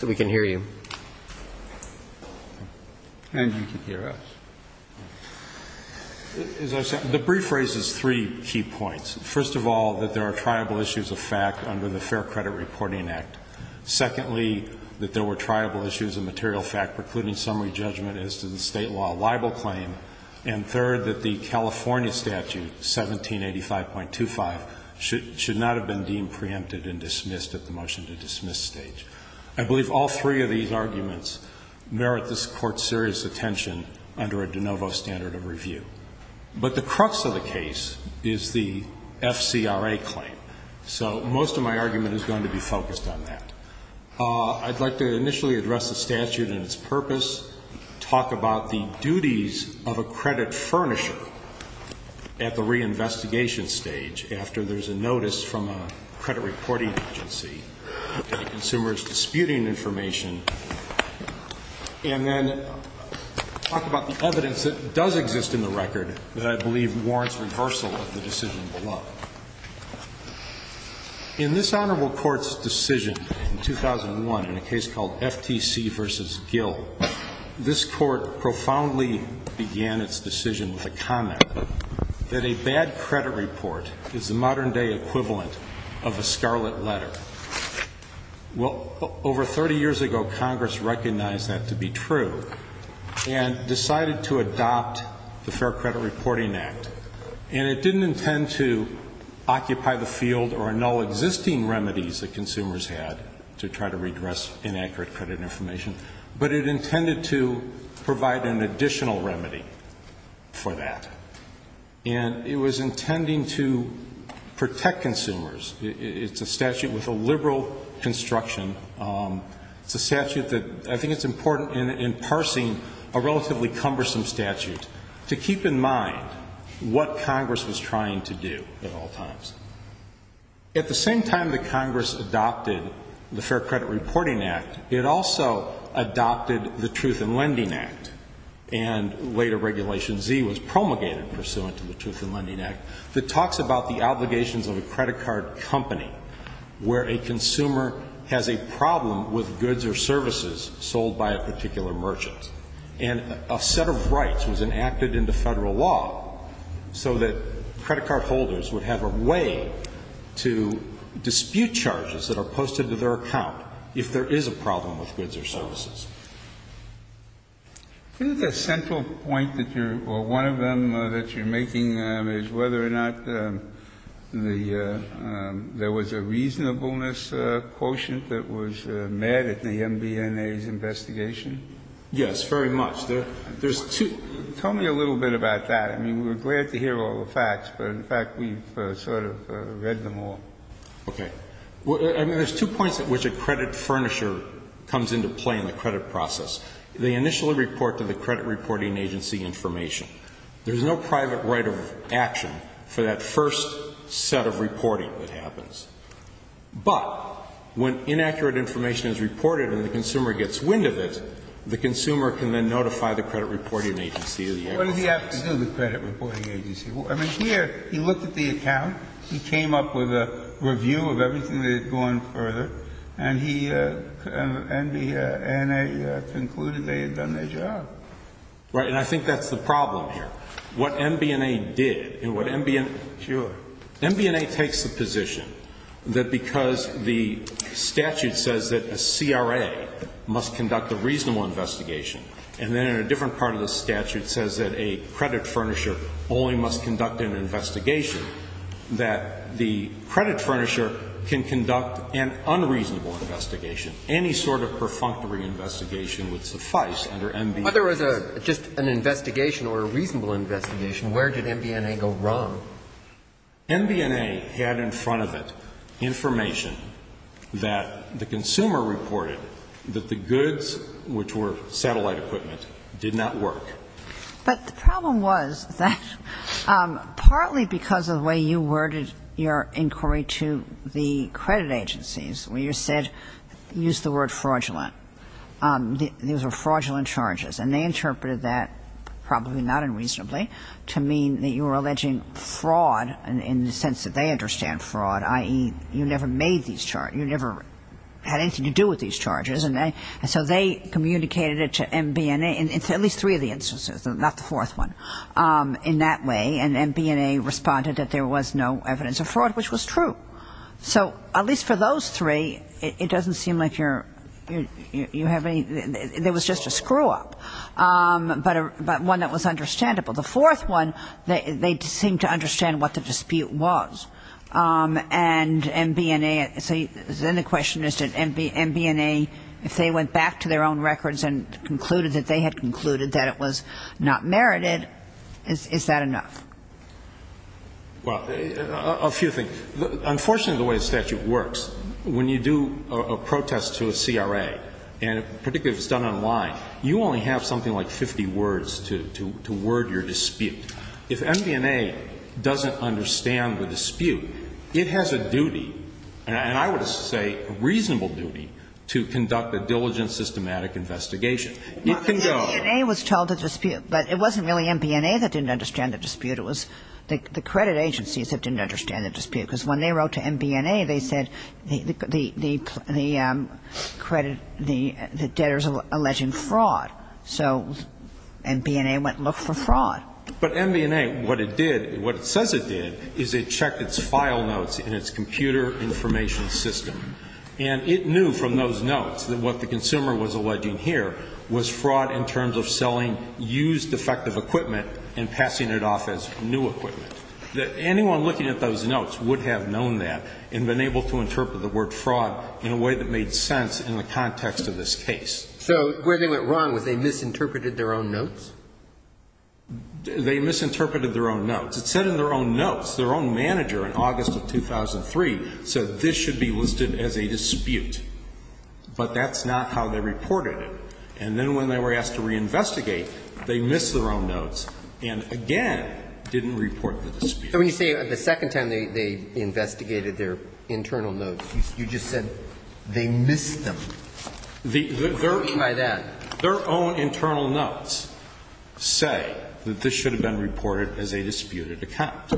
The brief raises three key points. First of all, that there are triable issues of fact under the Fair Credit Reporting Act. Secondly, that there were triable issues of material fact precluding summary judgment as to the state law libel claim. And third, that the California statute, 1785.25, should not have been deemed preempted and dismissed at the time of the hearing. I believe all three of these arguments merit this Court's serious attention under a de novo standard of review. But the crux of the case is the FCRA claim. So most of my argument is going to be focused on that. I'd like to initially address the statute and its purpose, talk about the duties of a credit furnisher at the reinvestigation stage after there's a notice from a credit reporting agency that a consumer is disputing information, and then talk about the evidence that does exist in the record that I believe warrants reversal of the decision below. In this Honorable Court's decision in 2001 in a case called FTC v. Gill, this Court profoundly began its decision with a comment that a bad credit report is the modern-day equivalent of a scarlet letter. Well, over 30 years ago, Congress recognized that to be true and decided to adopt the Fair Credit Reporting Act. And it didn't intend to occupy the field or annul existing remedies that consumers had to try to redress inaccurate credit information, but it intended to provide an additional remedy for that. And it was intending to protect consumers. It's a statute with a liberal construction. It's a statute that I think it's important in parsing a relatively cumbersome statute to keep in mind what Congress was trying to do at all times. At the same time that Congress adopted the Fair Credit Reporting Act, it also adopted the Truth in Lending Act. And later, Regulation Z was promulgated pursuant to the Truth in Lending Act that talks about the obligations of a credit card company where a consumer has a problem with goods or services sold by a particular merchant. And a set of rights was enacted into Federal law so that credit card holders would have a way to dispute charges that are posted to their account if there is a problem with goods or services. I think the central point that you're, or one of them that you're making is whether or not the, there was a reasonableness quotient that was met at the MBNA's investigation. Yes, very much. There's two. Tell me a little bit about that. I mean, we're glad to hear all the facts, but in fact, we've sort of read them all. Okay. I mean, there's two points at which a credit furnisher comes into play in the credit process. They initially report to the credit reporting agency information. There's no private right of action for that first set of reporting that happens. But when inaccurate information is reported and the consumer gets wind of it, the consumer can then notify the credit reporting agency. What did he have to do, the credit reporting agency? I mean, here, he looked at the account. He came up with a review of everything that had gone further. And he, MBNA concluded they had done their job. Right. And I think that's the problem here. What MBNA did, and what MBNA. Sure. MBNA takes the position that because the statute says that a CRA must conduct a reasonable investigation, and then in a different part of the statute says that a credit furnisher only must conduct an investigation, that the credit furnisher can conduct an unreasonable investigation. Any sort of perfunctory investigation would suffice under MBNA. But if there was just an investigation or a reasonable investigation, where did MBNA go wrong? MBNA had in front of it information that the consumer reported that the goods, which were satellite equipment, did not work. But the problem was that partly because of the way you worded your inquiry to the credit agencies, where you said, used the word fraudulent, these were fraudulent charges. And they interpreted that probably not unreasonably to mean that you were alleging fraud in the sense that they understand fraud, i.e., you never made these charges, you never had anything to do with these charges. And so they communicated it to MBNA in at least three of the instances, not the fourth one, in that way. And MBNA responded that there was no evidence of fraud, which was true. So at least for those three, it doesn't seem like you're, you have any, there was just a screw-up. But one that was understandable. The fourth one, they seemed to understand what the dispute was. And MBNA, so then the question is, did MBNA, if they went back to their own records and concluded that they had concluded that it was not merited, is that enough? Well, a few things. Unfortunately, the way the statute works, when you do a protest to a CRA, and particularly if it's done online, you only have something like 50 words to word your dispute. If MBNA doesn't understand the dispute, it has a duty, and I would say a reasonable duty, to conduct a diligent, systematic investigation. It can go. Well, MBNA was told the dispute, but it wasn't really MBNA that didn't understand the dispute. It was the credit agencies that didn't understand the dispute. Because when they wrote to MBNA, they said the credit, the debtors alleging fraud. So MBNA went and looked for fraud. But MBNA, what it did, what it says it did, is it checked its file notes in its computer information system. And it knew from those notes that what the consumer was alleging here was fraud in terms of selling used, defective equipment and passing it off as new equipment. Anyone looking at those notes would have known that and been able to interpret the word fraud in a way that made sense in the context of this case. So where they went wrong was they misinterpreted their own notes? They misinterpreted their own notes. It said in their own notes, their own manager in August of 2003 said this should be listed as a dispute. But that's not how they reported it. And then when they were asked to reinvestigate, they missed their own notes and, again, didn't report the dispute. So when you say the second time they investigated their internal notes, you just said they missed them. What do you mean by that? Their own internal notes say that this should have been reported as a disputed account.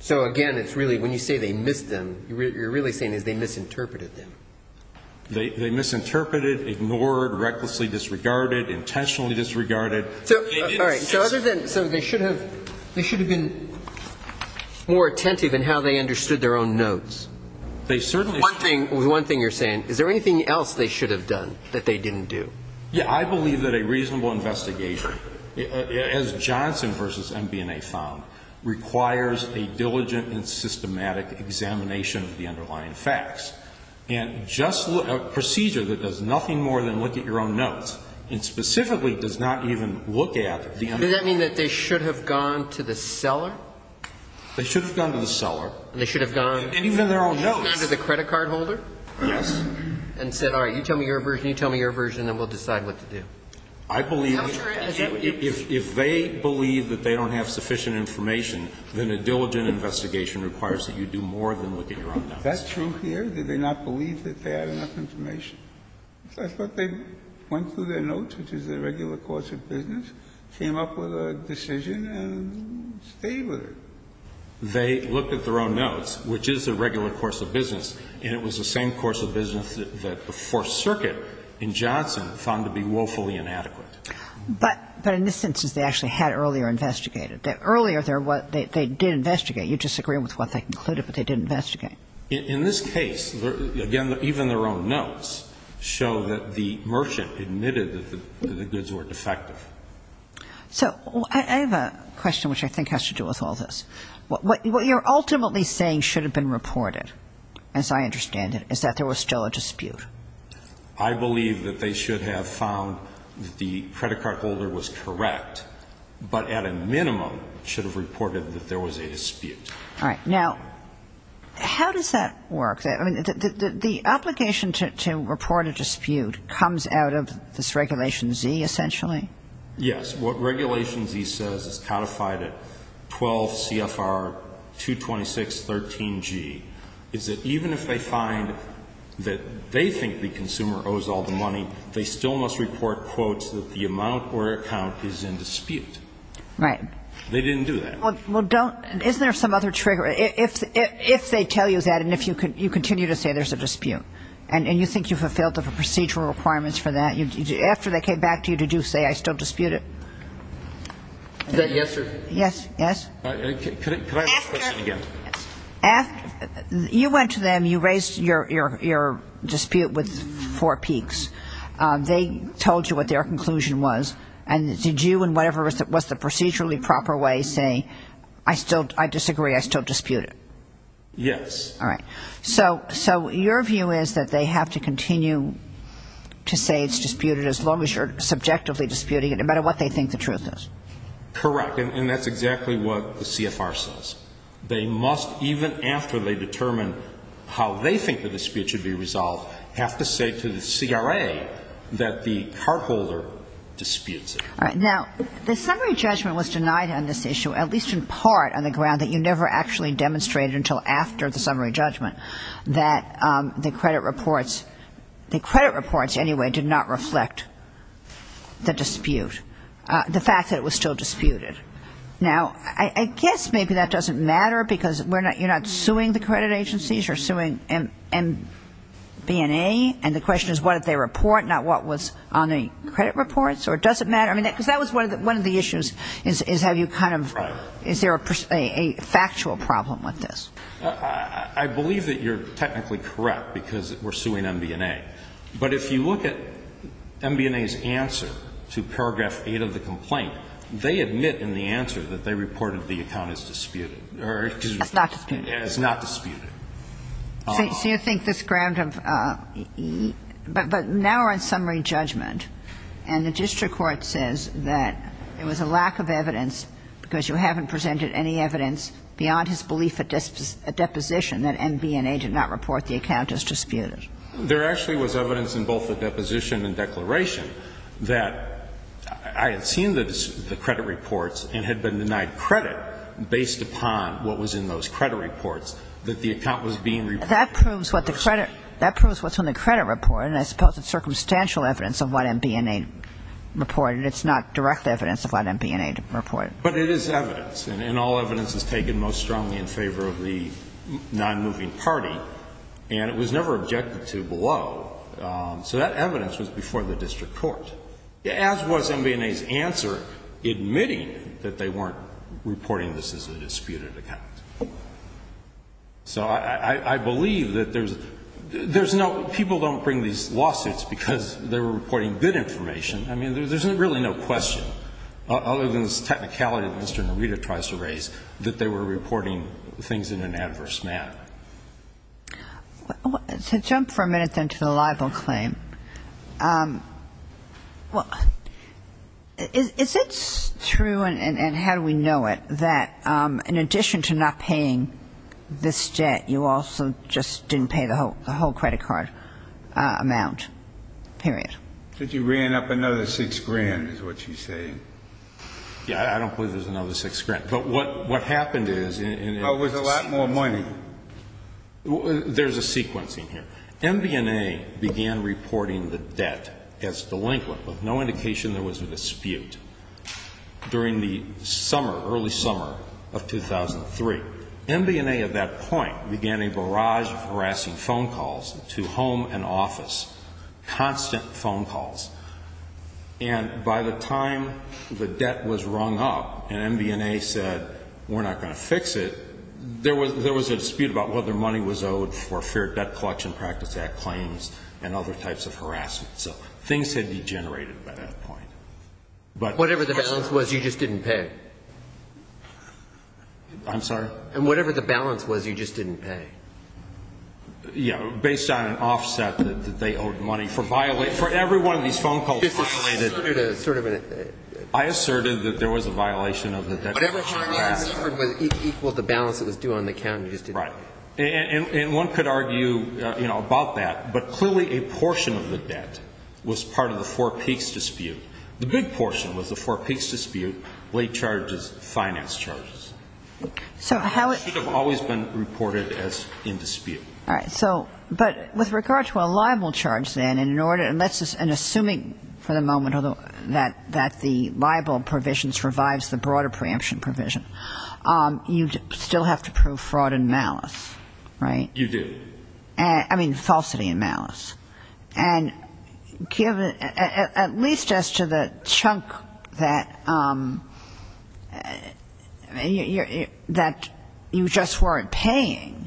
So, again, it's really when you say they missed them, what you're really saying is they misinterpreted them. They misinterpreted, ignored, recklessly disregarded, intentionally disregarded. All right. So other than they should have been more attentive in how they understood their own notes. One thing you're saying, is there anything else they should have done that they didn't do? Yeah. I believe that a reasonable investigation, as Johnson v. MBNA found, requires a diligent and systematic examination of the underlying facts. And just a procedure that does nothing more than look at your own notes and specifically does not even look at the underlying. Does that mean that they should have gone to the seller? They should have gone to the seller. And they should have gone. And even their own notes. They should have gone to the credit card holder. Yes. And said, all right, you tell me your version, you tell me your version, and we'll decide what to do. I believe that if they believe that they don't have sufficient information, then a diligent investigation requires that you do more than look at your own notes. Is that true here? Did they not believe that they had enough information? I thought they went through their notes, which is their regular course of business, came up with a decision, and stayed with it. They looked at their own notes, which is their regular course of business, and it was the same course of business that the Fourth Circuit in Johnson found to be woefully inadequate. But in this instance, they actually had earlier investigated. Earlier, they did investigate. You disagree with what they concluded, but they did investigate. In this case, again, even their own notes show that the merchant admitted that the goods were defective. So I have a question which I think has to do with all this. What you're ultimately saying should have been reported, as I understand it, is that there was still a dispute. I believe that they should have found that the credit card holder was correct, but at a minimum should have reported that there was a dispute. All right. Now, how does that work? The obligation to report a dispute comes out of this Regulation Z, essentially? Yes. What Regulation Z says is codified at 12 CFR 226.13G, is that even if they find that they think the consumer owes all the money, they still must report, quotes, that the amount or account is in dispute. Right. They didn't do that. Well, don't. Isn't there some other trigger? If they tell you that and you continue to say there's a dispute and you think you've fulfilled the procedural requirements for that, after they came back to you, did you say, I still dispute it? Is that yes or? Yes. Yes. Could I ask the question again? You went to them. You raised your dispute with Four Peaks. They told you what their conclusion was, and did you in whatever was the procedurally proper way say, I disagree, I still dispute it? Yes. All right. So your view is that they have to continue to say it's disputed as long as you're subjectively disputing it, no matter what they think the truth is? Correct, and that's exactly what the CFR says. They must, even after they determine how they think the dispute should be resolved, have to say to the CRA that the cardholder disputes it. All right. Now, the summary judgment was denied on this issue, at least in part, on the ground that you never actually demonstrated until after the summary judgment that the credit reports anyway did not reflect the dispute, the fact that it was still disputed. Now, I guess maybe that doesn't matter because you're not suing the credit agencies, you're suing MB&A, and the question is what did they report, not what was on the credit reports, or does it matter? I mean, because that was one of the issues is have you kind of ‑‑ Right. Is there a factual problem with this? I believe that you're technically correct because we're suing MB&A. But if you look at MB&A's answer to paragraph 8 of the complaint, they admit in the answer that they reported the account as disputed. As not disputed. So you think this ground of ‑‑ but now we're on summary judgment, and the district court says that it was a lack of evidence because you haven't presented any evidence beyond his belief that a deposition that MB&A did not report the account as disputed. There actually was evidence in both the deposition and declaration that I had seen the credit reports and had been denied credit based upon what was in those credit reports. That the account was being reported. That proves what the credit ‑‑ that proves what's on the credit report, and I suppose it's circumstantial evidence of what MB&A reported. It's not direct evidence of what MB&A reported. But it is evidence, and all evidence is taken most strongly in favor of the nonmoving party, and it was never objected to below. So that evidence was before the district court, as was MB&A's answer admitting that they weren't reporting this as a disputed account. So I believe that there's no ‑‑ people don't bring these lawsuits because they were reporting good information. I mean, there's really no question, other than this technicality that Mr. Narita tries to raise, that they were reporting things in an adverse manner. So jump for a minute then to the libel claim. Well, is it true, and how do we know it, that in addition to not paying this debt, you also just didn't pay the whole credit card amount, period? That you ran up another six grand, is what she's saying. Yeah, I don't believe there's another six grand. But what happened is ‑‑ Well, it was a lot more money. There's a sequence in here. MB&A began reporting the debt as delinquent, with no indication there was a dispute, during the summer, early summer of 2003. MB&A at that point began a barrage of harassing phone calls to home and office, constant phone calls. And by the time the debt was rung up and MB&A said, we're not going to fix it, there was a dispute about whether money was owed for Fair Debt Collection Practice Act claims and other types of harassment. So things had degenerated by that point. Whatever the balance was, you just didn't pay? I'm sorry? And whatever the balance was, you just didn't pay? Yeah, based on an offset that they owed money. For every one of these phone calls, I asserted that there was a violation of the debt collection act. The balance that was due on the account, you just didn't pay? Right. And one could argue about that, but clearly a portion of the debt was part of the Four Peaks dispute. The big portion was the Four Peaks dispute, late charges, finance charges. It should have always been reported as in dispute. All right. So, but with regard to a liable charge then, and assuming for the moment that the liable provision which revives the broader preemption provision, you still have to prove fraud and malice, right? You do. I mean, falsity and malice. And at least as to the chunk that you just weren't paying,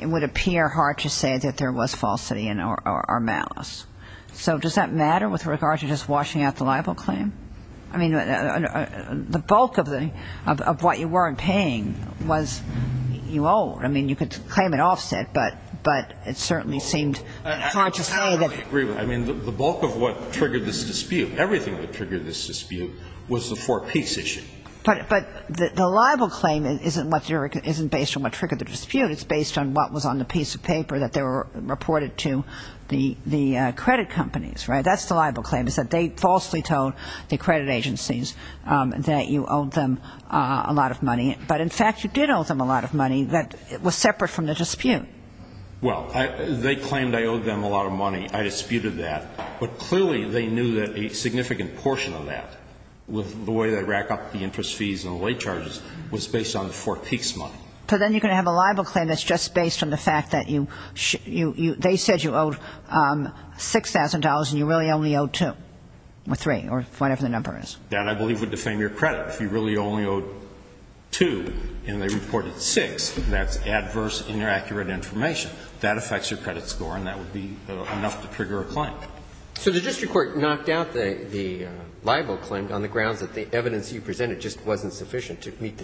it would appear hard to say that there was falsity or malice. So does that matter with regard to just washing out the liable claim? I mean, the bulk of what you weren't paying was you owed. I mean, you could claim an offset, but it certainly seemed hard to say that. I totally agree with that. I mean, the bulk of what triggered this dispute, everything that triggered this dispute was the Four Peaks issue. But the liable claim isn't based on what triggered the dispute. It's based on what was on the piece of paper that they reported to the credit companies, right? That's the liable claim, is that they falsely told the credit agencies that you owed them a lot of money. But, in fact, you did owe them a lot of money that was separate from the dispute. Well, they claimed I owed them a lot of money. I disputed that. But clearly they knew that a significant portion of that, with the way they rack up the interest fees and the late charges, was based on the Four Peaks money. So then you're going to have a liable claim that's just based on the fact that they said you owed $6,000 and you really only owed $2,000 or $3,000 or whatever the number is. That, I believe, would defame your credit. If you really only owed $2,000 and they reported $6,000, that's adverse, inaccurate information. That affects your credit score and that would be enough to trigger a claim. So the district court knocked out the liable claim on the grounds that the evidence you presented just wasn't sufficient to meet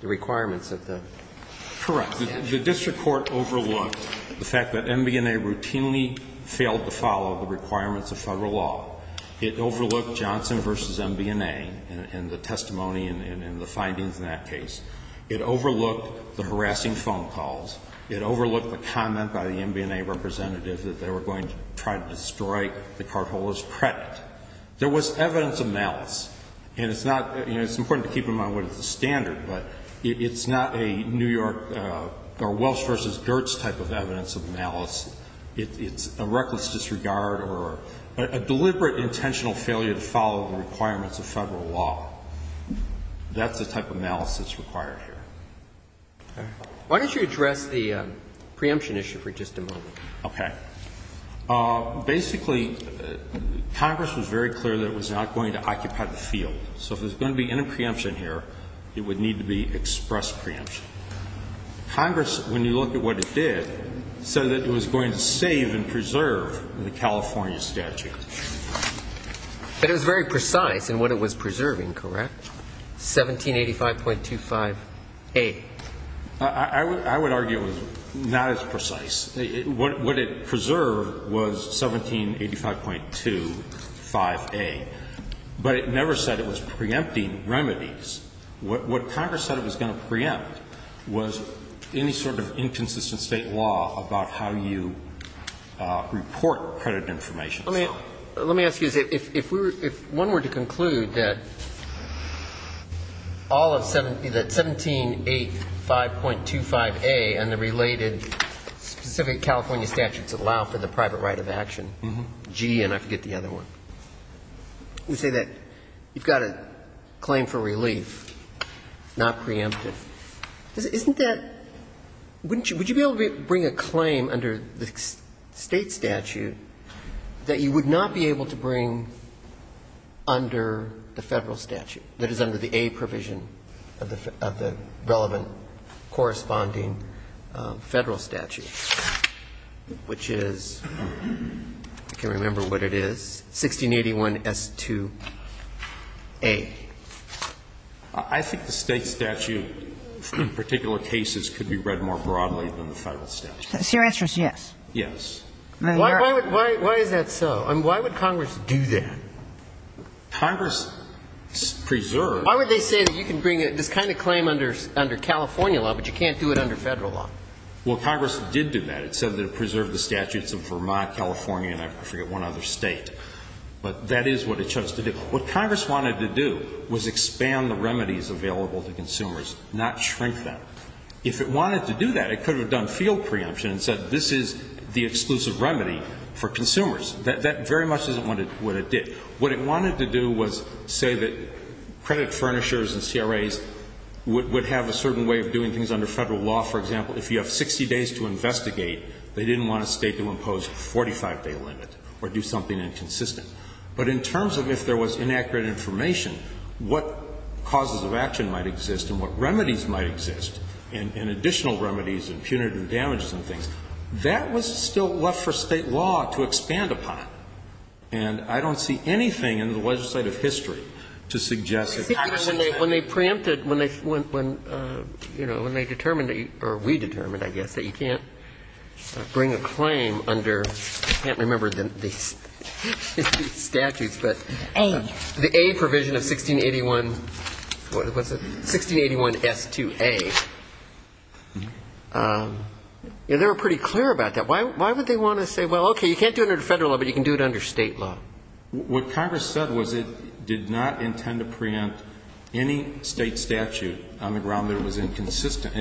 the requirements of the statute? Correct. The district court overlooked the fact that MB&A routinely failed to follow the requirements of Federal law. It overlooked Johnson v. MB&A and the testimony and the findings in that case. It overlooked the harassing phone calls. It overlooked the comment by the MB&A representative that they were going to try to destroy the Cartola's credit. There was evidence of malice. And it's not, you know, it's important to keep in mind what is the standard, but it's not a New York or Welsh v. Gertz type of evidence of malice. It's a reckless disregard or a deliberate intentional failure to follow the requirements of Federal law. That's the type of malice that's required here. Why don't you address the preemption issue for just a moment? Okay. Basically, Congress was very clear that it was not going to occupy the field. So if there's going to be any preemption here, it would need to be express preemption. Congress, when you look at what it did, said that it was going to save and preserve the California statute. But it was very precise in what it was preserving, correct? 1785.25a. I would argue it was not as precise. What it preserved was 1785.25a. But it never said it was preempting remedies. What Congress said it was going to preempt was any sort of inconsistent State law about how you report credit information. Let me ask you this. If one were to conclude that all of 1785.25a and the related specific California statutes allow for the private right of action, G and I forget the other one, you say that you've got a claim for relief, not preemptive. Isn't that – wouldn't you – would you be able to bring a claim under the State statute that you would not be able to bring under the Federal statute, that is under the A provision of the relevant corresponding Federal statute, which is – I can't remember what it is – 1681S2a? I think the State statute in particular cases could be read more broadly than the Federal statute. So your answer is yes? Yes. Why is that so? I mean, why would Congress do that? Congress preserved – Why would they say that you can bring this kind of claim under California law, but you can't do it under Federal law? Well, Congress did do that. It said that it preserved the statutes of Vermont, California, and I forget one other State. But that is what it chose to do. What Congress wanted to do was expand the remedies available to consumers, not shrink them. If it wanted to do that, it could have done field preemption and said this is the exclusive remedy for consumers. That very much isn't what it did. What it wanted to do was say that credit furnishers and CRAs would have a certain way of doing things under Federal law. For example, if you have 60 days to investigate, they didn't want a State to impose a 45-day limit or do something inconsistent. But in terms of if there was inaccurate information, what causes of action might exist and what remedies might exist and additional remedies and punitive damages and things, that was still left for State law to expand upon. And I don't see anything in the legislative history to suggest that Congress did that. When they preempted, when they, you know, when they determined, or we determined, I guess, that you can't bring a claim under – I can't remember the statutes, but the A provision of 1681. What is it? 1681S2A. They were pretty clear about that. Why would they want to say, well, okay, you can't do it under Federal law, but you can do it under State law? What Congress said was it did not intend to preempt any State statute on the ground that it was inconsistent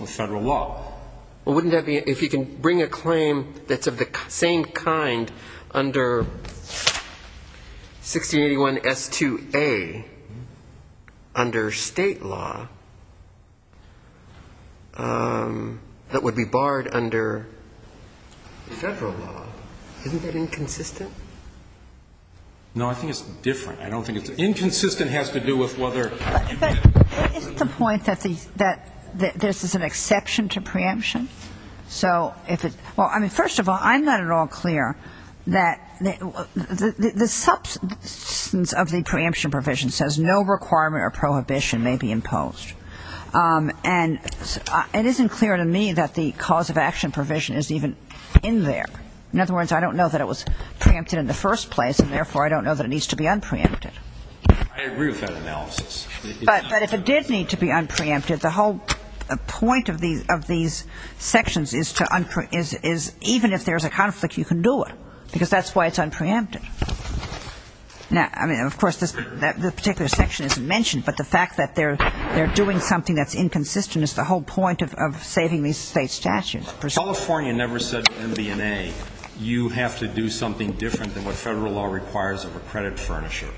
with Federal law. Well, wouldn't that be if you can bring a claim that's of the same kind under 1681S2A under State law that would be barred under Federal law? Isn't that inconsistent? No, I think it's different. I don't think it's – inconsistent has to do with whether – But isn't the point that this is an exception to preemption? So if it – well, I mean, first of all, I'm not at all clear that – the substance of the preemption provision says no requirement or prohibition may be imposed. And it isn't clear to me that the cause of action provision is even in there. In other words, I don't know that it was preempted in the first place, and therefore I don't know that it needs to be unpreempted. I agree with that analysis. But if it did need to be unpreempted, the whole point of these sections is to – even if there's a conflict, you can do it because that's why it's unpreempted. Now, I mean, of course, this particular section isn't mentioned, but the fact that they're doing something that's inconsistent is the whole point of saving these State statutes. California never said to MB&A, you have to do something different than what Federal law requires of a credit furnisher.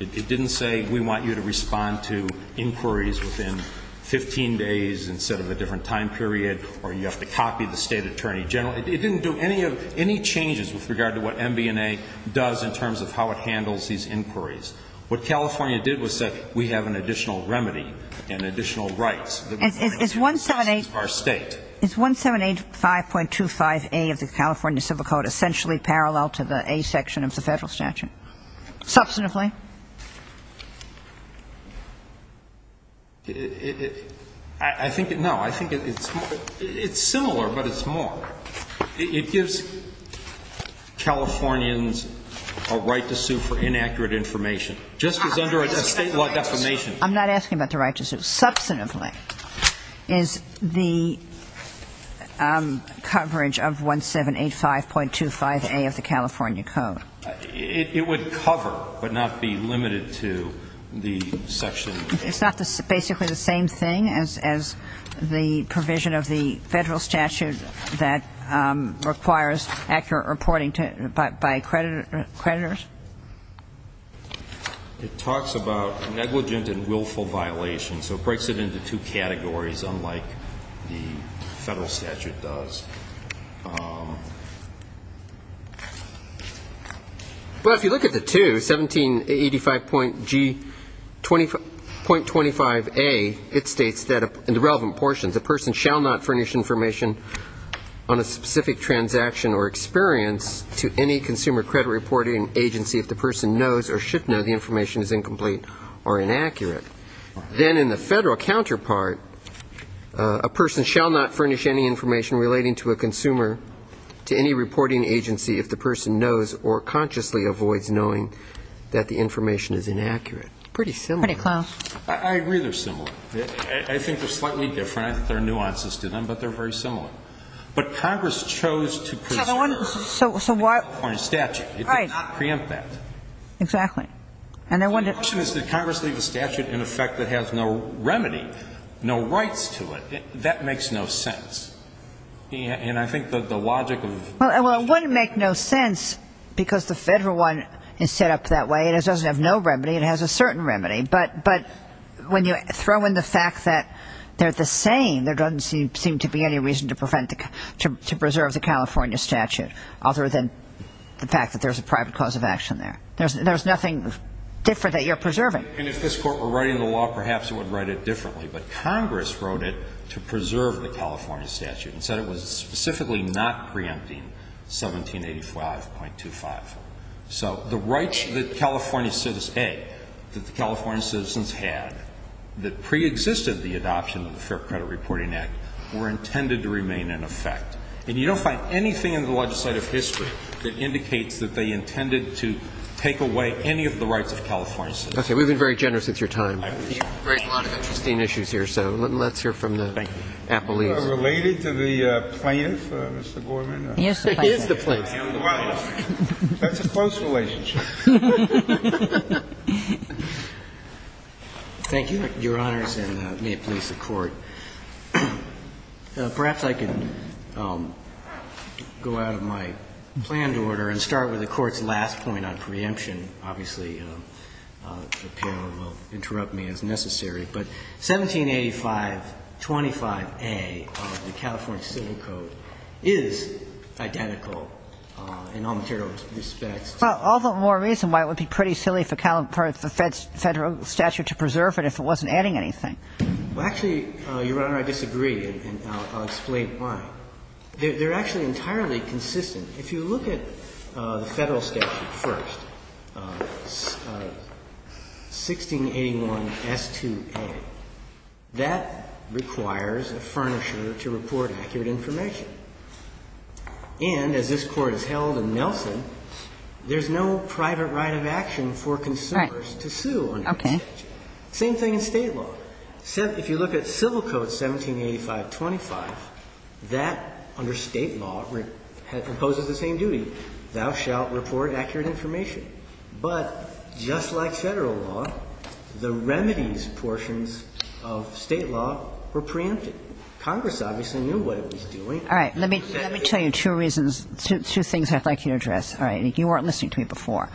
It didn't say we want you to respond to inquiries within 15 days instead of a different time period or you have to copy the State attorney general. It didn't do any changes with regard to what MB&A does in terms of how it handles these inquiries. What California did was say we have an additional remedy and additional rights. Is 1785.25A of the California Civil Code essentially parallel to the A section of the Federal statute? Substantively. I think – no, I think it's – it's similar, but it's more. It gives Californians a right to sue for inaccurate information just as under a State law defamation. I'm not asking about the right to sue. Substantively is the coverage of 1785.25A of the California Code. It would cover but not be limited to the section. It's not basically the same thing as the provision of the Federal statute that requires accurate reporting by creditors? It talks about negligent and willful violations. So it breaks it into two categories unlike the Federal statute does. Well, if you look at the two, 1785.25A, it states that in the relevant portions, a person shall not furnish information on a specific transaction or experience to any consumer credit reporting agency if the person knows or should know the information is incomplete or inaccurate. Then in the Federal counterpart, a person shall not furnish any information relating to a consumer to any reporting agency if the person knows or consciously avoids knowing that the information is inaccurate. Pretty similar. Pretty close. I agree they're similar. I think they're slightly different. I think there are nuances to them, but they're very similar. But Congress chose to preserve the California statute. Right. It did not preempt that. Exactly. The question is, did Congress leave a statute in effect that has no remedy, no rights to it? That makes no sense. And I think that the logic of Well, it wouldn't make no sense because the Federal one is set up that way. It doesn't have no remedy. It has a certain remedy. But when you throw in the fact that they're the same, there doesn't seem to be any reason to preserve the California statute other than the fact that there's a private cause of action there. There's nothing different that you're preserving. And if this Court were writing the law, perhaps it would write it differently. But Congress wrote it to preserve the California statute and said it was specifically not preempting 1785.25. So the California citizens had that preexisted the adoption of the Fair Credit Reporting Act were intended to remain in effect. And you don't find anything in the legislative history that indicates that they intended to take away any of the rights of California citizens. Okay. We've been very generous with your time. Great. A lot of interesting issues here. So let's hear from the appellees. Thank you. Related to the plaintiff, Mr. Gorman. He is the plaintiff. He is the plaintiff. That's a close relationship. Thank you, Your Honors, and may it please the Court. Perhaps I could go out of my planned order and start with the Court's last point on preemption. Obviously, the panel will interrupt me as necessary. But 1785.25a of the California Civil Code is identical in all material respects to the California Civil Code. Well, all the more reason why it would be pretty silly for the Federal statute to preserve it if it wasn't adding anything. Well, actually, Your Honor, I disagree, and I'll explain why. They're actually entirely consistent. If you look at the Federal statute first, 1681S2a, that requires a furnisher to report accurate information. And as this Court has held in Nelson, there's no private right of action for consumers to sue under this statute. Okay. Same thing in State law. If you look at Civil Code 1785.25, that, under State law, imposes the same duty. Thou shalt report accurate information. But just like Federal law, the remedies portions of State law were preempted. Congress obviously knew what it was doing. All right. Let me tell you two reasons, two things I'd like you to address. All right. You weren't listening to me before.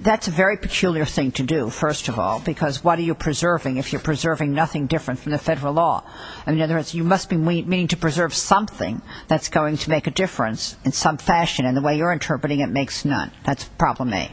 That's a very peculiar thing to do, first of all, because what are you preserving if you're preserving nothing different from the Federal law? In other words, you must be meaning to preserve something that's going to make a difference in some fashion, and the way you're interpreting it makes none. That's problem A.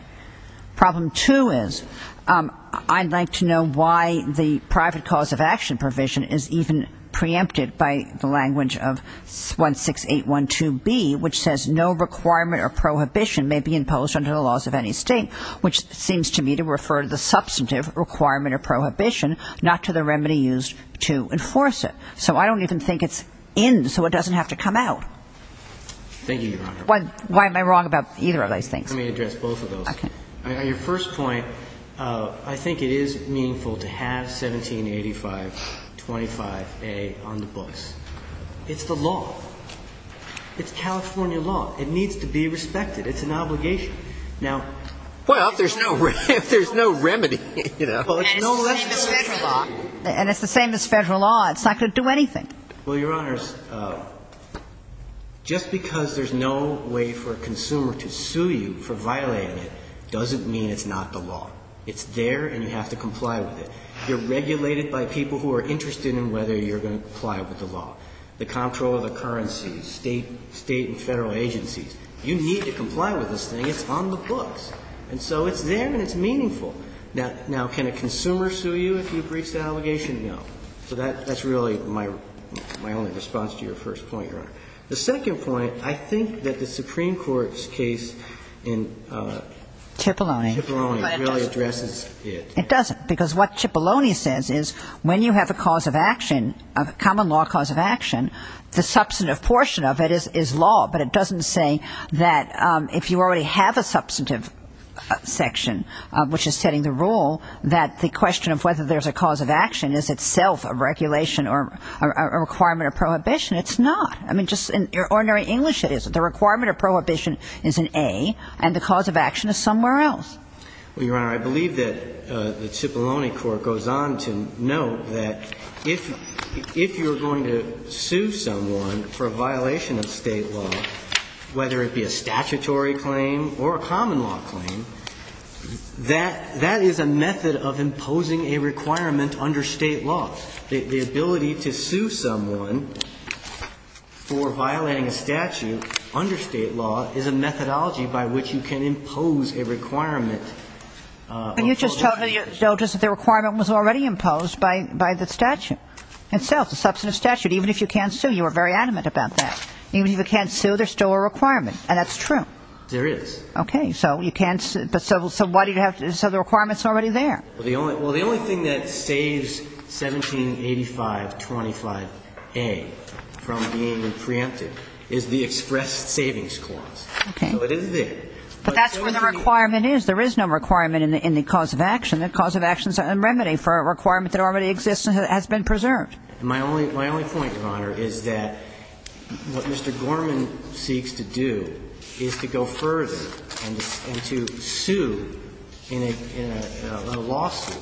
Problem 2 is I'd like to know why the private cause of action provision is even preempted by the language of 16812B, which says, no requirement or prohibition may be imposed under the laws of any State, which seems to me to refer to the substantive requirement or prohibition, not to the remedy used to enforce it. So I don't even think it's in, so it doesn't have to come out. Thank you, Your Honor. Why am I wrong about either of those things? Let me address both of those. Okay. On your first point, I think it is meaningful to have 1785.25A on the books. It's the law. It's California law. It needs to be respected. It's an obligation. Now, if there's no remedy, you know. And it's the same as Federal law. And it's the same as Federal law. It's not going to do anything. Well, Your Honors, just because there's no way for a consumer to sue you for violating it doesn't mean it's not the law. It's there and you have to comply with it. You're regulated by people who are interested in whether you're going to comply with the law. The control of the currency, State and Federal agencies. You need to comply with this thing. It's on the books. And so it's there and it's meaningful. Now, can a consumer sue you if he breaches the obligation? No. So that's really my only response to your first point, Your Honor. The second point, I think that the Supreme Court's case in Cipollone. Cipollone really addresses it. It doesn't because what Cipollone says is when you have a cause of action, a common law cause of action, the substantive portion of it is law. But it doesn't say that if you already have a substantive section, which is setting the rule, that the question of whether there's a cause of action is itself a regulation or a requirement of prohibition. It's not. I mean, just in ordinary English it is. The requirement of prohibition is an A and the cause of action is somewhere else. Well, Your Honor, I believe that the Cipollone court goes on to note that if you're going to sue someone for a violation of State law, whether it be a statutory claim or a common law claim, that is a method of imposing a requirement under State law. The ability to sue someone for violating a statute under State law is a methodology by which you can impose a requirement of prohibition. But you just told me that the requirement was already imposed by the statute. And so it's a substantive statute. Even if you can't sue, you were very adamant about that. Even if you can't sue, there's still a requirement, and that's true. There is. Okay. So you can't sue. But so why do you have to so the requirement's already there? Well, the only thing that saves 178525A from being preempted is the express savings clause. Okay. So it is there. But that's where the requirement is. There is no requirement in the cause of action. The cause of action is a remedy for a requirement that already exists and has been preserved. My only point, Your Honor, is that what Mr. Gorman seeks to do is to go further and to sue in a lawsuit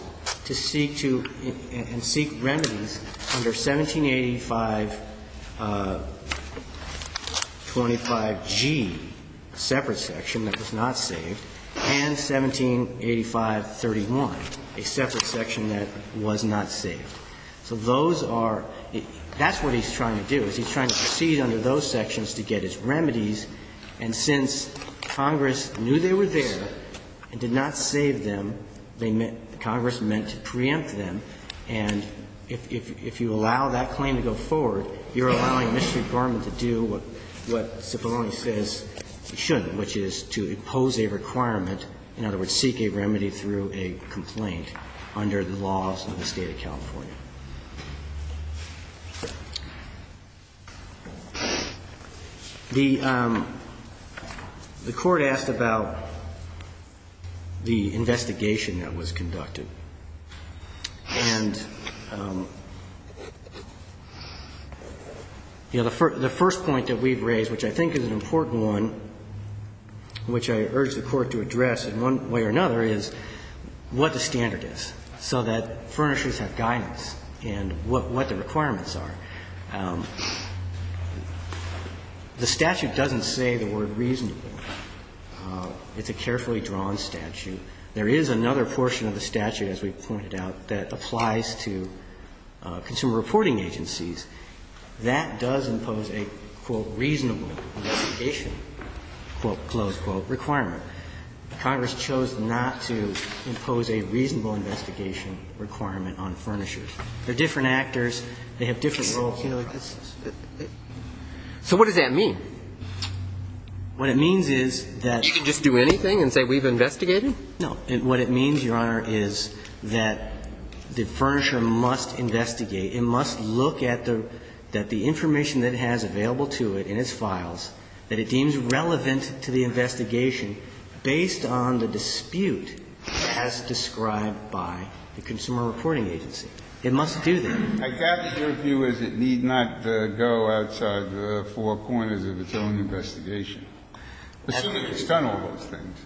to seek to and seek remedies under 178525G, a separate section that was not saved, and 178531, a separate section that was not saved. So those are the – that's what he's trying to do, is he's trying to proceed under those sections to get his remedies. And since Congress knew they were there and did not save them, they meant – Congress meant to preempt them. And if you allow that claim to go forward, you're allowing Mr. Gorman to do what Cipollone says he shouldn't, which is to impose a requirement, in other words, seek a remedy through a complaint under the laws of the State of California. The Court asked about the investigation that was conducted. And, you know, the first point that we've raised, which I think is an important one, which I urge the Court to address in one way or another, is what the standard is so that furnishers have guidance and what the requirements are. The statute doesn't say the word reasonable. It's a carefully drawn statute. There is another portion of the statute, as we pointed out, that applies to consumer reporting agencies. That does impose a, quote, reasonable investigation, quote, close quote, requirement. Congress chose not to impose a reasonable investigation requirement on furnishers. They're different actors. They have different roles. So what does that mean? What it means is that you can just do anything and say we've investigated? No. What it means, Your Honor, is that the furnisher must investigate. It must look at the information that it has available to it in its files that it deems relevant to the investigation based on the dispute as described by the consumer reporting agency. It must do that. I gather your view is it need not go outside the four corners of its own investigation. Assuming it's done all those things.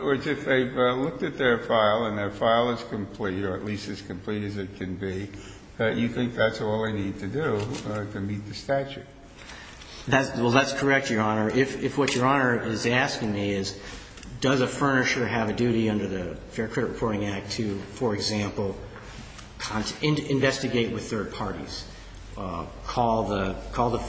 Or if they've looked at their file and their file is complete, or at least as complete as it can be, you think that's all they need to do to meet the statute. Well, that's correct, Your Honor. If what Your Honor is asking me is does a furnisher have a duty under the Fair Credit Reporting Act to, for example, investigate with third parties, call the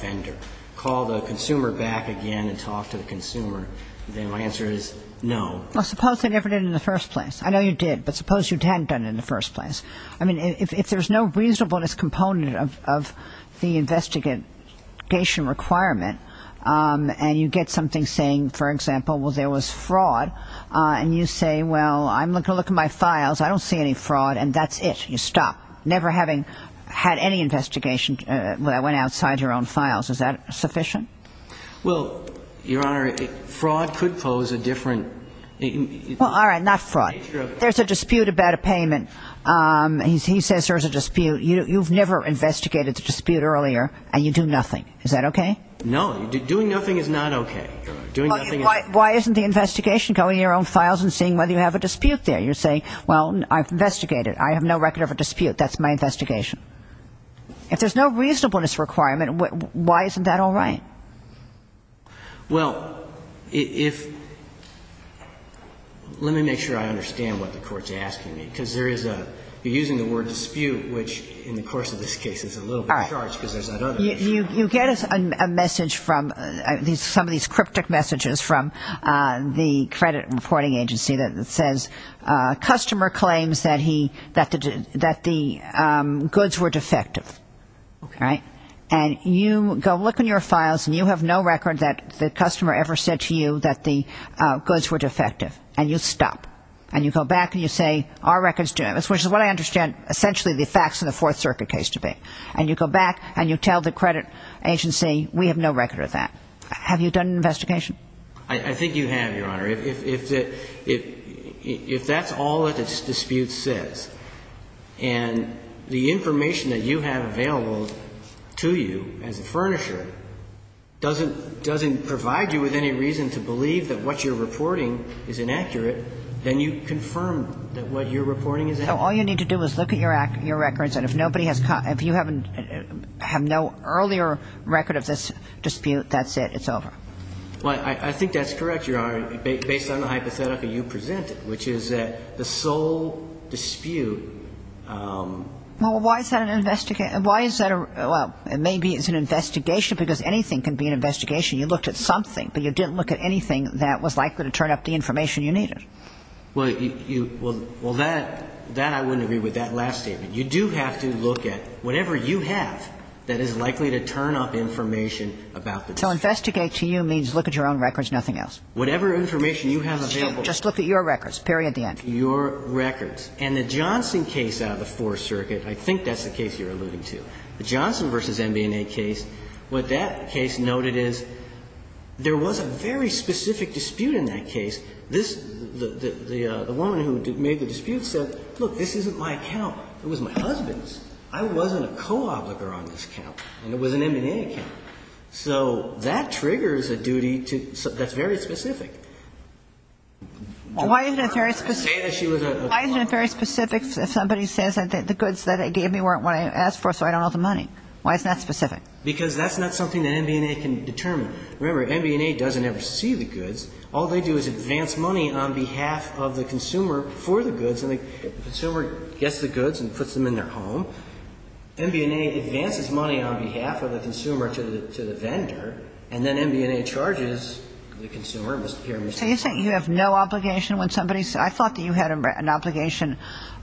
fender, call the consumer back again and talk to the consumer, then my answer is no. Well, suppose they never did in the first place. I know you did. But suppose you hadn't done it in the first place. I mean, if there's no reasonableness component of the investigation requirement, and you get something saying, for example, well, there was fraud, and you say, well, I'm going to look at my files. I don't see any fraud. And that's it. You stop. Never having had any investigation that went outside your own files. Is that sufficient? Well, Your Honor, fraud could pose a different nature. Well, all right. Not fraud. There's a dispute about a payment. He says there's a dispute. You've never investigated the dispute earlier, and you do nothing. Is that okay? No. Doing nothing is not okay. Why isn't the investigation going in your own files and seeing whether you have a dispute there? You're saying, well, I've investigated. I have no record of a dispute. That's my investigation. If there's no reasonableness requirement, why isn't that all right? Well, let me make sure I understand what the Court's asking me, because you're using the word dispute, which, in the course of this case, is a little bit charged because there's that other issue. You get a message from some of these cryptic messages from the credit reporting agency that says, customer claims that the goods were defective, right? And you go look in your files, and you have no record that the customer ever said to you that the goods were defective, and you stop. And you go back, and you say, our record's doing this, which is what I understand essentially the facts of the Fourth Circuit case to be. And you go back, and you tell the credit agency, we have no record of that. I think you have, Your Honor. If that's all that this dispute says, and the information that you have available to you as a furnisher doesn't provide you with any reason to believe that what you're reporting is inaccurate, then you confirm that what you're reporting is accurate. So all you need to do is look at your records, and if you have no earlier record of this dispute, that's it, it's over. Well, I think that's correct, Your Honor. Based on the hypothetical you presented, which is that the sole dispute. Well, why is that an investigation? Why is that a, well, maybe it's an investigation because anything can be an investigation. You looked at something, but you didn't look at anything that was likely to turn up the information you needed. Well, you, well, that, that I wouldn't agree with, that last statement. You do have to look at whatever you have that is likely to turn up information about the dispute. So investigate to you means look at your own records, nothing else? Whatever information you have available. Just look at your records, period, at the end. Your records. And the Johnson case out of the Fourth Circuit, I think that's the case you're alluding to, the Johnson v. MB&A case. What that case noted is there was a very specific dispute in that case. This, the woman who made the dispute said, look, this isn't my account. It was my husband's. I wasn't a co-obliger on this account, and it was an MB&A account. So that triggers a duty to, that's very specific. Why isn't it very specific? Say that she was a co-obliger. Why isn't it very specific if somebody says that the goods that they gave me weren't what I asked for, so I don't owe the money? Why isn't that specific? Because that's not something that MB&A can determine. Remember, MB&A doesn't ever see the goods. All they do is advance money on behalf of the consumer for the goods, and the consumer gets the goods and puts them in their home. So MB&A advances money on behalf of the consumer to the vendor, and then MB&A charges the consumer. So you're saying you have no obligation when somebody, I thought that you had an obligation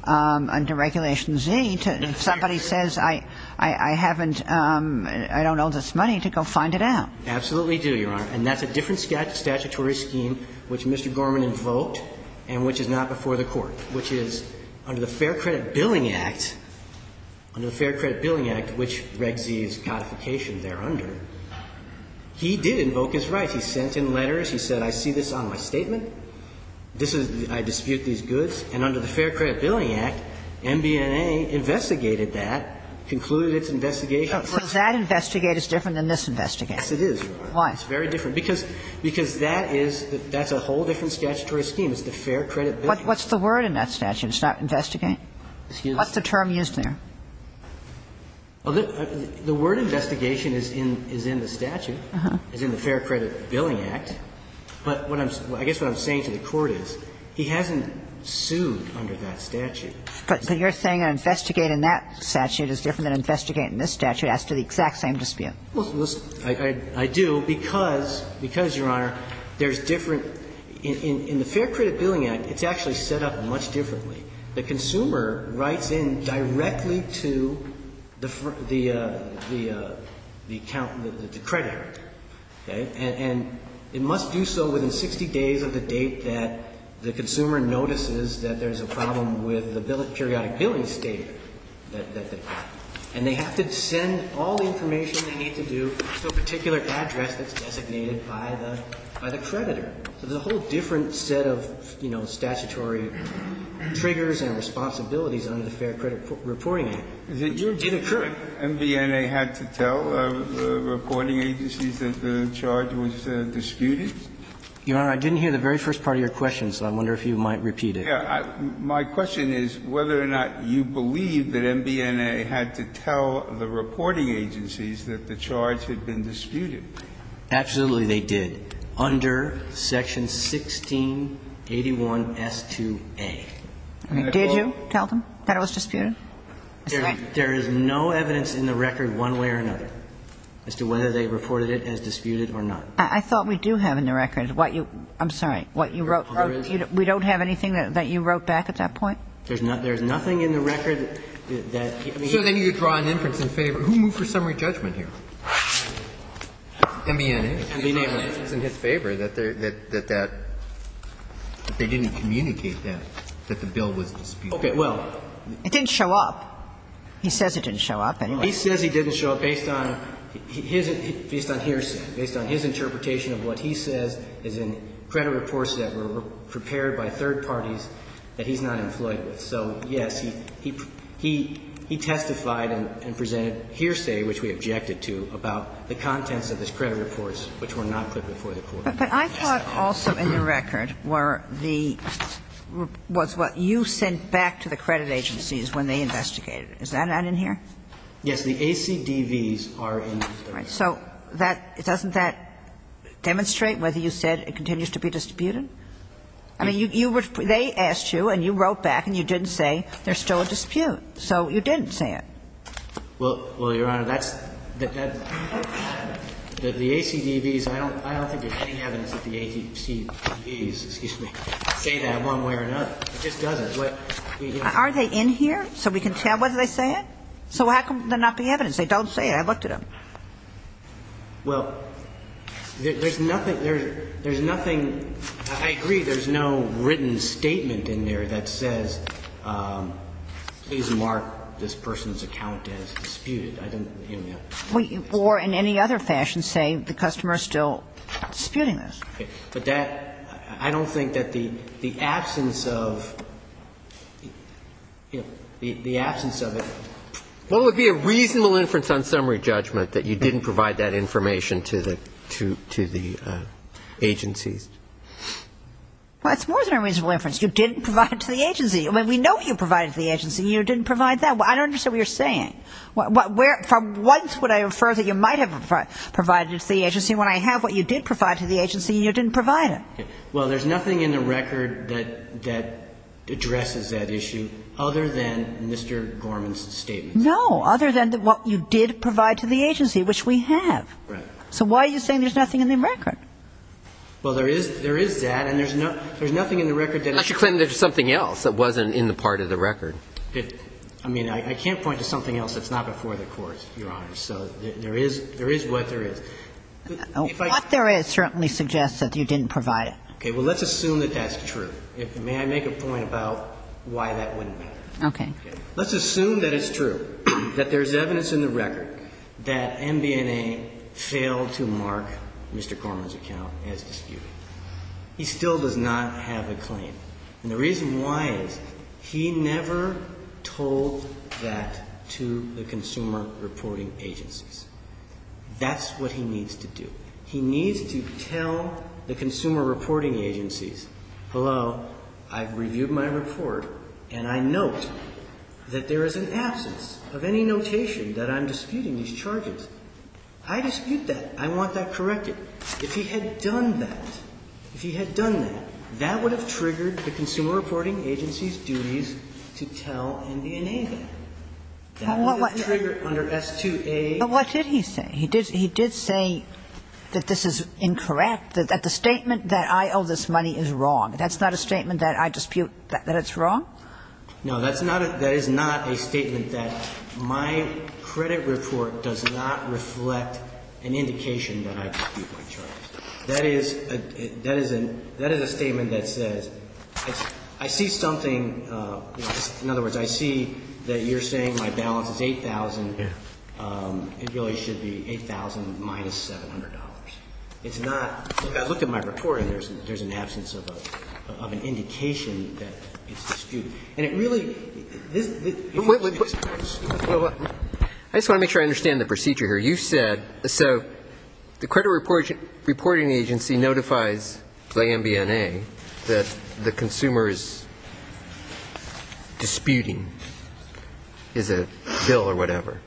under Regulation Z to, if somebody says, I haven't, I don't owe this money, to go find it out. Absolutely do, Your Honor, and that's a different statutory scheme which Mr. Gorman invoked and which is not before the Court, which is under the Fair Credit Billing Act, under the Fair Credit Billing Act, which Reg Z is codification there under. He did invoke his rights. He sent in letters. He said, I see this on my statement. This is, I dispute these goods. And under the Fair Credit Billing Act, MB&A investigated that, concluded its investigation. So that investigate is different than this investigate. Yes, it is, Your Honor. Why? It's very different, because that is, that's a whole different statutory scheme. It's the Fair Credit Billing Act. What's the word in that statute? It's not investigate? Excuse me? What's the term used there? The word investigation is in the statute, is in the Fair Credit Billing Act. But what I'm, I guess what I'm saying to the Court is he hasn't sued under that statute. But you're saying investigate in that statute is different than investigate in this statute as to the exact same dispute. I do, because, because, Your Honor, there's different, in the Fair Credit Billing Act, it's actually set up much differently. The consumer writes in directly to the, the account, the creditor. Okay? And it must do so within 60 days of the date that the consumer notices that there's a problem with the periodic billing statement that they've got. And they have to send all the information they need to do to a particular address that's designated by the, by the creditor. So there's a whole different set of, you know, statutory triggers and responsibilities under the Fair Credit Reporting Act, which did occur. Did MBNA had to tell the reporting agencies that the charge was disputed? Your Honor, I didn't hear the very first part of your question, so I wonder if you might repeat it. Yeah. My question is whether or not you believe that MBNA had to tell the reporting agencies that the charge had been disputed. Absolutely, they did. Under Section 1681S2A. Did you tell them that it was disputed? There is no evidence in the record one way or another as to whether they reported it as disputed or not. I thought we do have in the record what you, I'm sorry, what you wrote. We don't have anything that you wrote back at that point? There's nothing in the record that, I mean. So then you draw an inference in favor. Who moved for summary judgment here? MBNA. It was in his favor that that, that they didn't communicate that, that the bill was disputed. Okay. Well. It didn't show up. He says it didn't show up. He says he didn't show up based on his, based on hearsay, based on his interpretation of what he says is in credit reports that were prepared by third parties that he's not employed with. And so, yes, he, he, he testified and, and presented hearsay, which we objected to, about the contents of his credit reports, which were not put before the court. But I thought also in the record were the, was what you sent back to the credit agencies when they investigated it. Is that not in here? Yes. The ACDVs are in the record. All right. So that, doesn't that demonstrate whether you said it continues to be disputed? I mean, you, you were, they asked you and you wrote back and you didn't say there's still a dispute. So you didn't say it. Well, well, Your Honor, that's, that, that, the ACDVs, I don't, I don't think there's any evidence that the ACDVs, excuse me, say that one way or another. It just doesn't. Are they in here so we can tell whether they say it? So how come they're not the evidence? They don't say it. I looked at them. Well, there's nothing, there's nothing, I agree there's no written statement in there that says please mark this person's account as disputed. I don't, you know. Or in any other fashion say the customer is still disputing this. But that, I don't think that the absence of, you know, the absence of it. Well, it would be a reasonable inference on summary judgment that you didn't provide that information to the, to, to the agencies. Well, it's more than a reasonable inference. You didn't provide it to the agency. I mean, we know you provided it to the agency and you didn't provide that. I don't understand what you're saying. Where, for once would I refer that you might have provided it to the agency when I have what you did provide to the agency and you didn't provide it. Well, there's nothing in the record that, that addresses that issue other than Mr. Gorman's statement. No. Other than what you did provide to the agency, which we have. Right. So why are you saying there's nothing in the record? Well, there is, there is that and there's no, there's nothing in the record that I should claim there's something else that wasn't in the part of the record. I mean, I can't point to something else that's not before the courts, Your Honor. So there is, there is what there is. What there is certainly suggests that you didn't provide it. Okay. Well, let's assume that that's true. May I make a point about why that wouldn't matter? Okay. Let's assume that it's true, that there's evidence in the record that MBNA failed to mark Mr. Gorman's account as disputed. He still does not have a claim. And the reason why is he never told that to the consumer reporting agencies. That's what he needs to do. He needs to tell the consumer reporting agencies, hello, I've reviewed my report and I note that there is an absence of any notation that I'm disputing these charges. I dispute that. I want that corrected. If he had done that, if he had done that, that would have triggered the consumer reporting agency's duties to tell MBNA that. That would have triggered under S2A. But what did he say? He did say that this is incorrect, that the statement that I owe this money is wrong. That's not a statement that I dispute that it's wrong? No. That is not a statement that my credit report does not reflect an indication that I dispute my charges. That is a statement that says, I see something, in other words, I see that you're saying my balance is 8,000. It really should be 8,000 minus $700. It's not. I looked at my report and there's an absence of an indication that it's disputed. And it really. I just want to make sure I understand the procedure here. You said, so the credit reporting agency notifies the MBNA that the consumer is disputing a bill or whatever.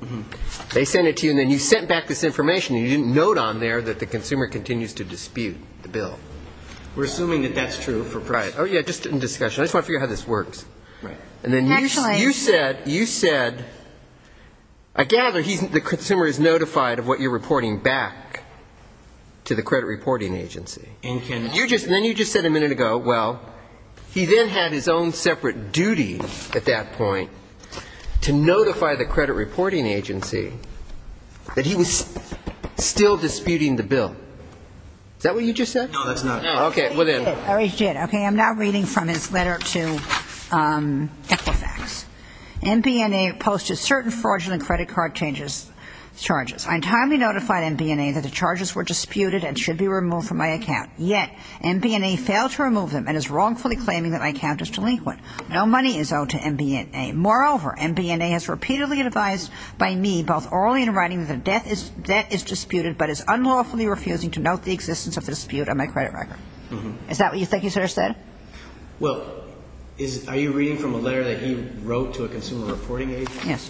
They send it to you and then you sent back this information and you didn't note on it that the consumer continues to dispute the bill. We're assuming that that's true for private. Oh, yeah, just in discussion. I just want to figure out how this works. Right. And then you said, I gather the consumer is notified of what you're reporting back to the credit reporting agency. And then you just said a minute ago, well, he then had his own separate duty at that Is that what you just said? No, that's not. Okay, well then. Okay, I'm now reading from his letter to Equifax. MBNA posted certain fraudulent credit card charges. I timely notified MBNA that the charges were disputed and should be removed from my account. Yet, MBNA failed to remove them and is wrongfully claiming that my account is delinquent. No money is owed to MBNA. Moreover, MBNA has repeatedly advised by me, both orally and in writing, that is disputed but is unlawfully refusing to note the existence of the dispute on my credit record. Is that what you think you sort of said? Well, are you reading from a letter that he wrote to a consumer reporting agency? Yes.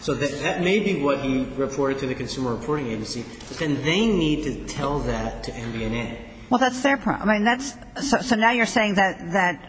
So that may be what he reported to the consumer reporting agency. Then they need to tell that to MBNA. Well, that's their problem. So now you're saying that,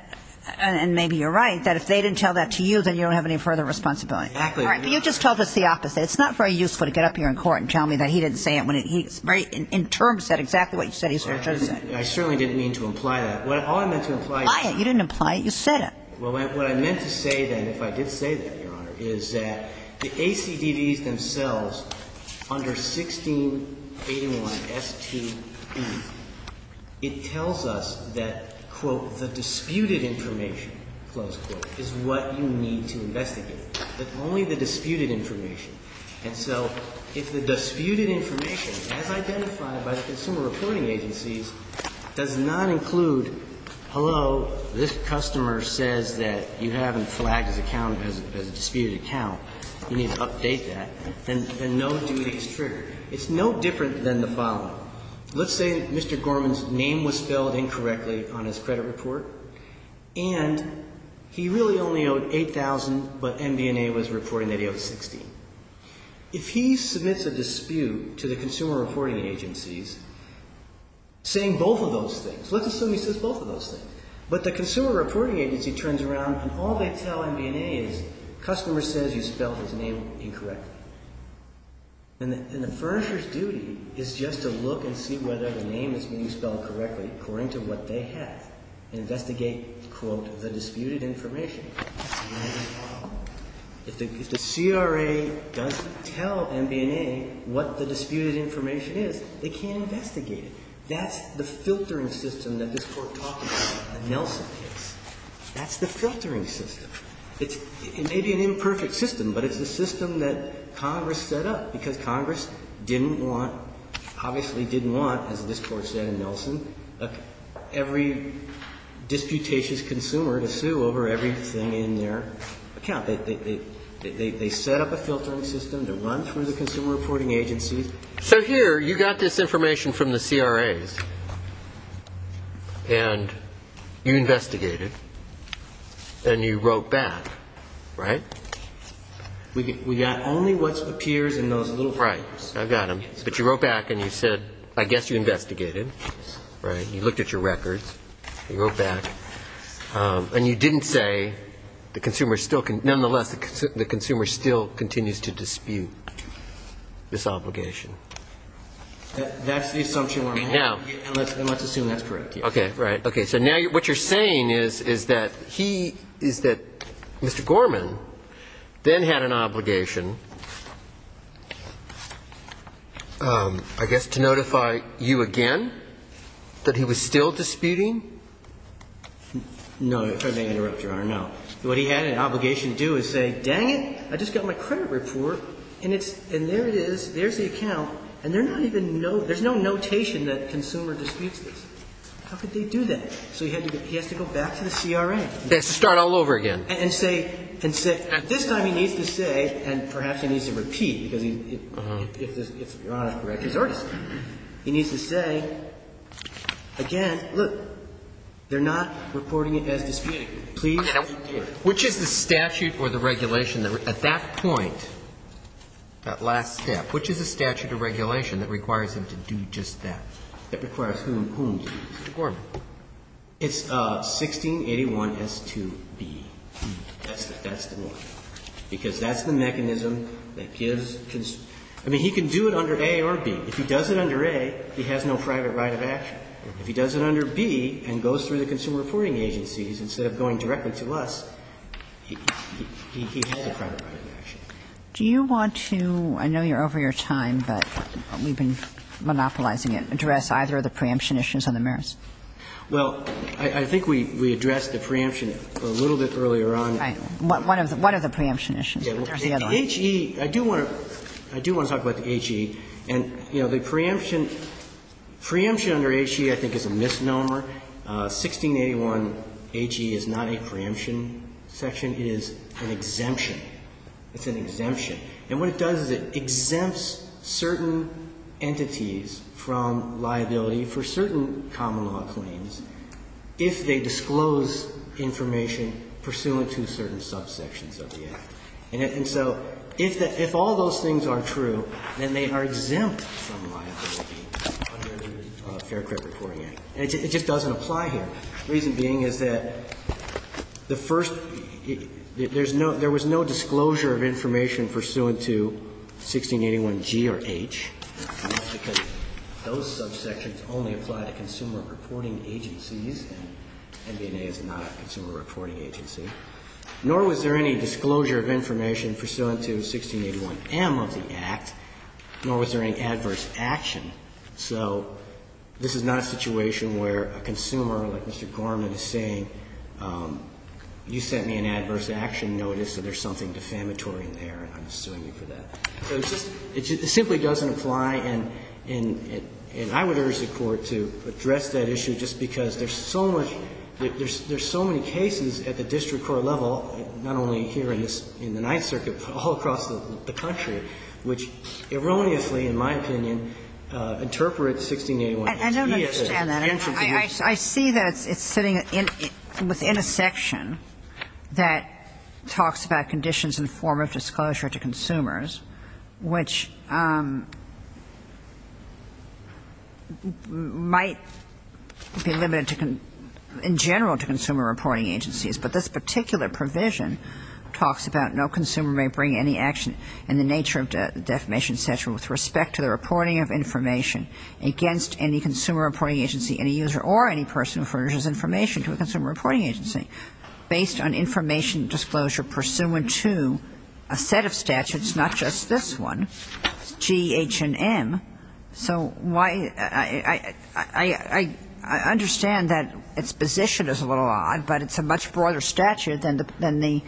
and maybe you're right, that if they didn't tell that to you, then you don't have any further responsibility. Exactly. All right, but you just told us the opposite. It's not very useful to get up here in court and tell me that he didn't say it when he's very, in terms, said exactly what you said he sort of should have said. I certainly didn't mean to imply that. All I meant to imply is that. You didn't imply it. You said it. Well, what I meant to say then, if I did say that, Your Honor, is that the ACDDs themselves under 1681STE, it tells us that, quote, the disputed information, close quote, is what you need to investigate. But only the disputed information. And so if the disputed information, as identified by the consumer reporting agencies, does not include, hello, this customer says that you haven't flagged his account as a disputed account, you need to update that, then no duty is triggered. It's no different than the following. Let's say Mr. Gorman's name was spelled incorrectly on his credit report, and he really only owed $8,000, but MBNA was reporting that he owed $16,000. If he submits a dispute to the consumer reporting agencies, saying both of those things, let's assume he says both of those things, but the consumer reporting agency turns around and all they tell MBNA is, customer says you spelled his name incorrectly. And the furnisher's duty is just to look and see whether the name is being spelled correctly according to what they have. Investigate, quote, the disputed information. If the CRA doesn't tell MBNA what the disputed information is, they can't investigate it. That's the filtering system that this Court talked about in the Nelson case. That's the filtering system. It may be an imperfect system, but it's the system that Congress set up, because Congress didn't want, obviously didn't want, as this Court said in Nelson, every disputatious consumer to sue over everything in their account. They set up a filtering system to run through the consumer reporting agencies. So here, you got this information from the CRAs, and you investigated, and you wrote back, right? We got only what appears in those little fragments. Right. I've got them. But you wrote back and you said, I guess you investigated, right? You looked at your records. You wrote back. And you didn't say the consumer still can ñ nonetheless, the consumer still continues to dispute this obligation. That's the assumption we're making. Now. And let's assume that's correct. Okay. Right. Okay. So now what you're saying is, is that he ñ is that Mr. Gorman then had an obligation, I guess, to notify you again that he was still disputing? No. If I may interrupt, Your Honor. No. What he had an obligation to do is say, dang it, I just got my credit report, and it's ñ and there it is. There's the account. And they're not even ñ there's no notation that consumer disputes this. How could they do that? So he had to ñ he has to go back to the CRA. He has to start all over again. And say ñ and say ñ at this time he needs to say, and perhaps he needs to repeat because he ñ if Your Honor is correct, he's already said it. He needs to say, again, look, they're not reporting it as disputing. Please report it. Which is the statute or the regulation that at that point, that last step, which is the statute or regulation that requires him to do just that? That requires whom to do this? Mr. Gorman. It's 1681S2B. That's the one. Because that's the mechanism that gives ñ I mean, he can do it under A or B. If he does it under A, he has no private right of action. If he does it under B and goes through the Consumer Reporting Agencies, instead of going directly to us, he has a private right of action. Do you want to ñ I know you're over your time, but we've been monopolizing it, address either of the preemption issues or the merits. Well, I think we addressed the preemption a little bit earlier on. Right. What are the preemption issues? There's the other one. The HE, I do want to ñ I do want to talk about the HE. And, you know, the preemption ñ preemption under HE, I think, is a misnomer. 1681HE is not a preemption section. It is an exemption. It's an exemption. And what it does is it exempts certain entities from liability for certain common law claims if they disclose information pursuant to certain subsections of the Act. And so if all those things are true, then they are exempt from liability under the Fair Credit Reporting Act. And it just doesn't apply here. The reason being is that the first ñ there's no ñ there was no disclosure of information pursuant to 1681G or H, because those subsections only apply to consumer reporting agencies, and NB&A is not a consumer reporting agency. Nor was there any disclosure of information pursuant to 1681M of the Act, nor was there any adverse action. So this is not a situation where a consumer, like Mr. Gorman is saying, you sent me an there, and I'm suing you for that. So it's just ñ it simply doesn't apply, and I would urge the Court to address that issue just because there's so much ñ there's so many cases at the district court level, not only here in the Ninth Circuit, but all across the country, which erroneously, in my opinion, interpret 1681HE as an exemption. I see that it's sitting within a section that talks about conditions in the form of disclosure to consumers, which might be limited to ñ in general to consumer reporting agencies. But this particular provision talks about no consumer may bring any action in the nature of the defamation statute with respect to the reporting of information against any consumer reporting agency, any user or any person who furnishes information to a consumer reporting agency based on information disclosure pursuant to a set of statutes, not just this one, G, H, and M. So why ñ I understand that its position is a little odd, but it's a much broader statute than the ñ than the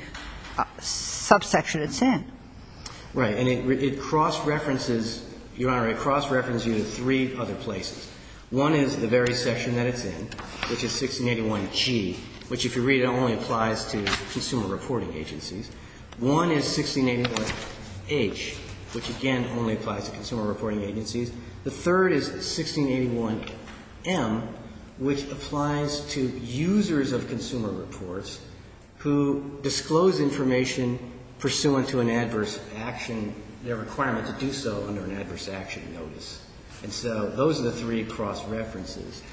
subsection it's in. Right. And it cross-references, Your Honor, it cross-references you to three other places. One is the very section that it's in, which is 1681G, which, if you read it, only applies to consumer reporting agencies. One is 1681H, which, again, only applies to consumer reporting agencies. The third is 1681M, which applies to users of consumer reports who disclose information pursuant to an adverse action, their requirement to do so under an adverse action notice. And so those are the three cross-references.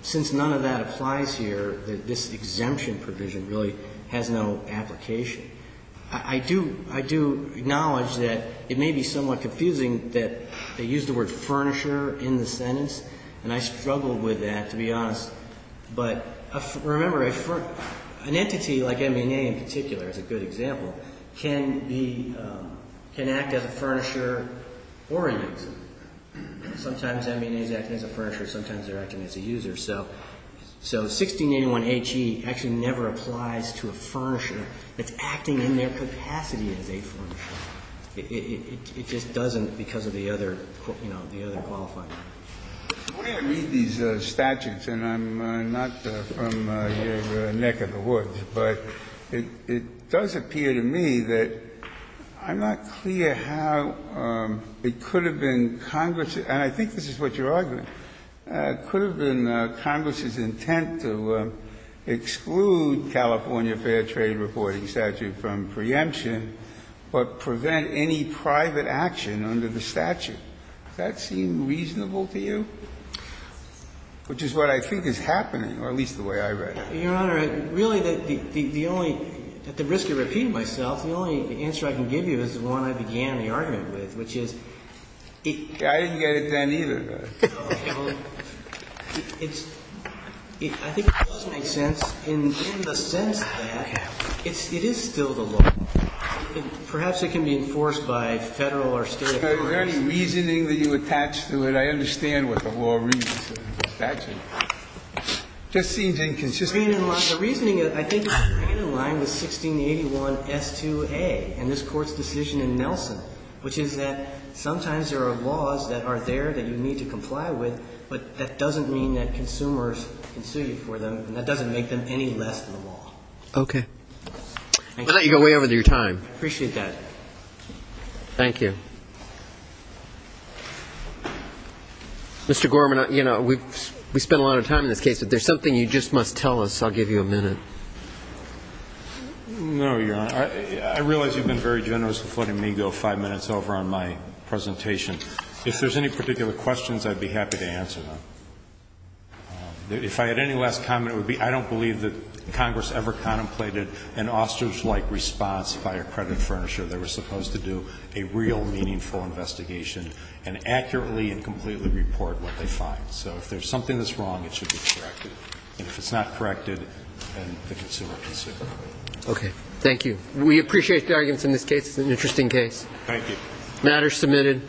Since none of that applies here, this exemption provision really has no application. I do ñ I do acknowledge that it may be somewhat confusing that they use the word ìfurnisherî in the sentence, and I struggled with that, to be honest. But remember, an entity like M&A in particular is a good example, can be ñ can act as a furnisher or a user. Sometimes M&As act as a furnisher. Sometimes they're acting as a user. So 1681HE actually never applies to a furnisher that's acting in their capacity as a furnisher. It just doesn't because of the other, you know, the other qualifying. When I read these statutes, and I'm not from your neck of the woods, but it does appear to me that I'm not clear how it could have been Congress's ñ and I think this is what you're arguing ñ it could have been Congress's intent to exclude California Fair Trade Reporting Statute from preemption, but prevent any private action under the statute. Does that seem reasonable to you? Which is what I think is happening, or at least the way I read it. Your Honor, really the only ñ at the risk of repeating myself, the only answer I can give you is the one I began the argument with, which is ñ I didn't get it then either. I think it does make sense. In the sense that it is still the law. Perhaps it can be enforced by Federal or State authorities. Are there any reasoning that you attach to it? I understand what the law reads in the statute. It just seems inconsistent. The reasoning, I think, is right in line with 1681S2A and this Court's decision in Nelson, which is that sometimes there are laws that are there that you need to comply with, but that doesn't mean that consumers can sue you for them, and that doesn't make them any less than the law. Okay. I'll let you go way over your time. I appreciate that. Thank you. Mr. Gorman, you know, we've spent a lot of time in this case, but there's something you just must tell us. I'll give you a minute. No, Your Honor. I realize you've been very generous with letting me go five minutes over on my presentation. If there's any particular questions, I'd be happy to answer them. If I had any last comment, it would be I don't believe that Congress ever contemplated an ostrich-like response by a credit furnisher. They were supposed to do a real meaningful investigation and accurately and completely report what they find. So if there's something that's wrong, it should be corrected. And if it's not corrected, then the consumer can sue. Okay. Thank you. We appreciate the arguments in this case. It's an interesting case. Thank you. The matter is submitted.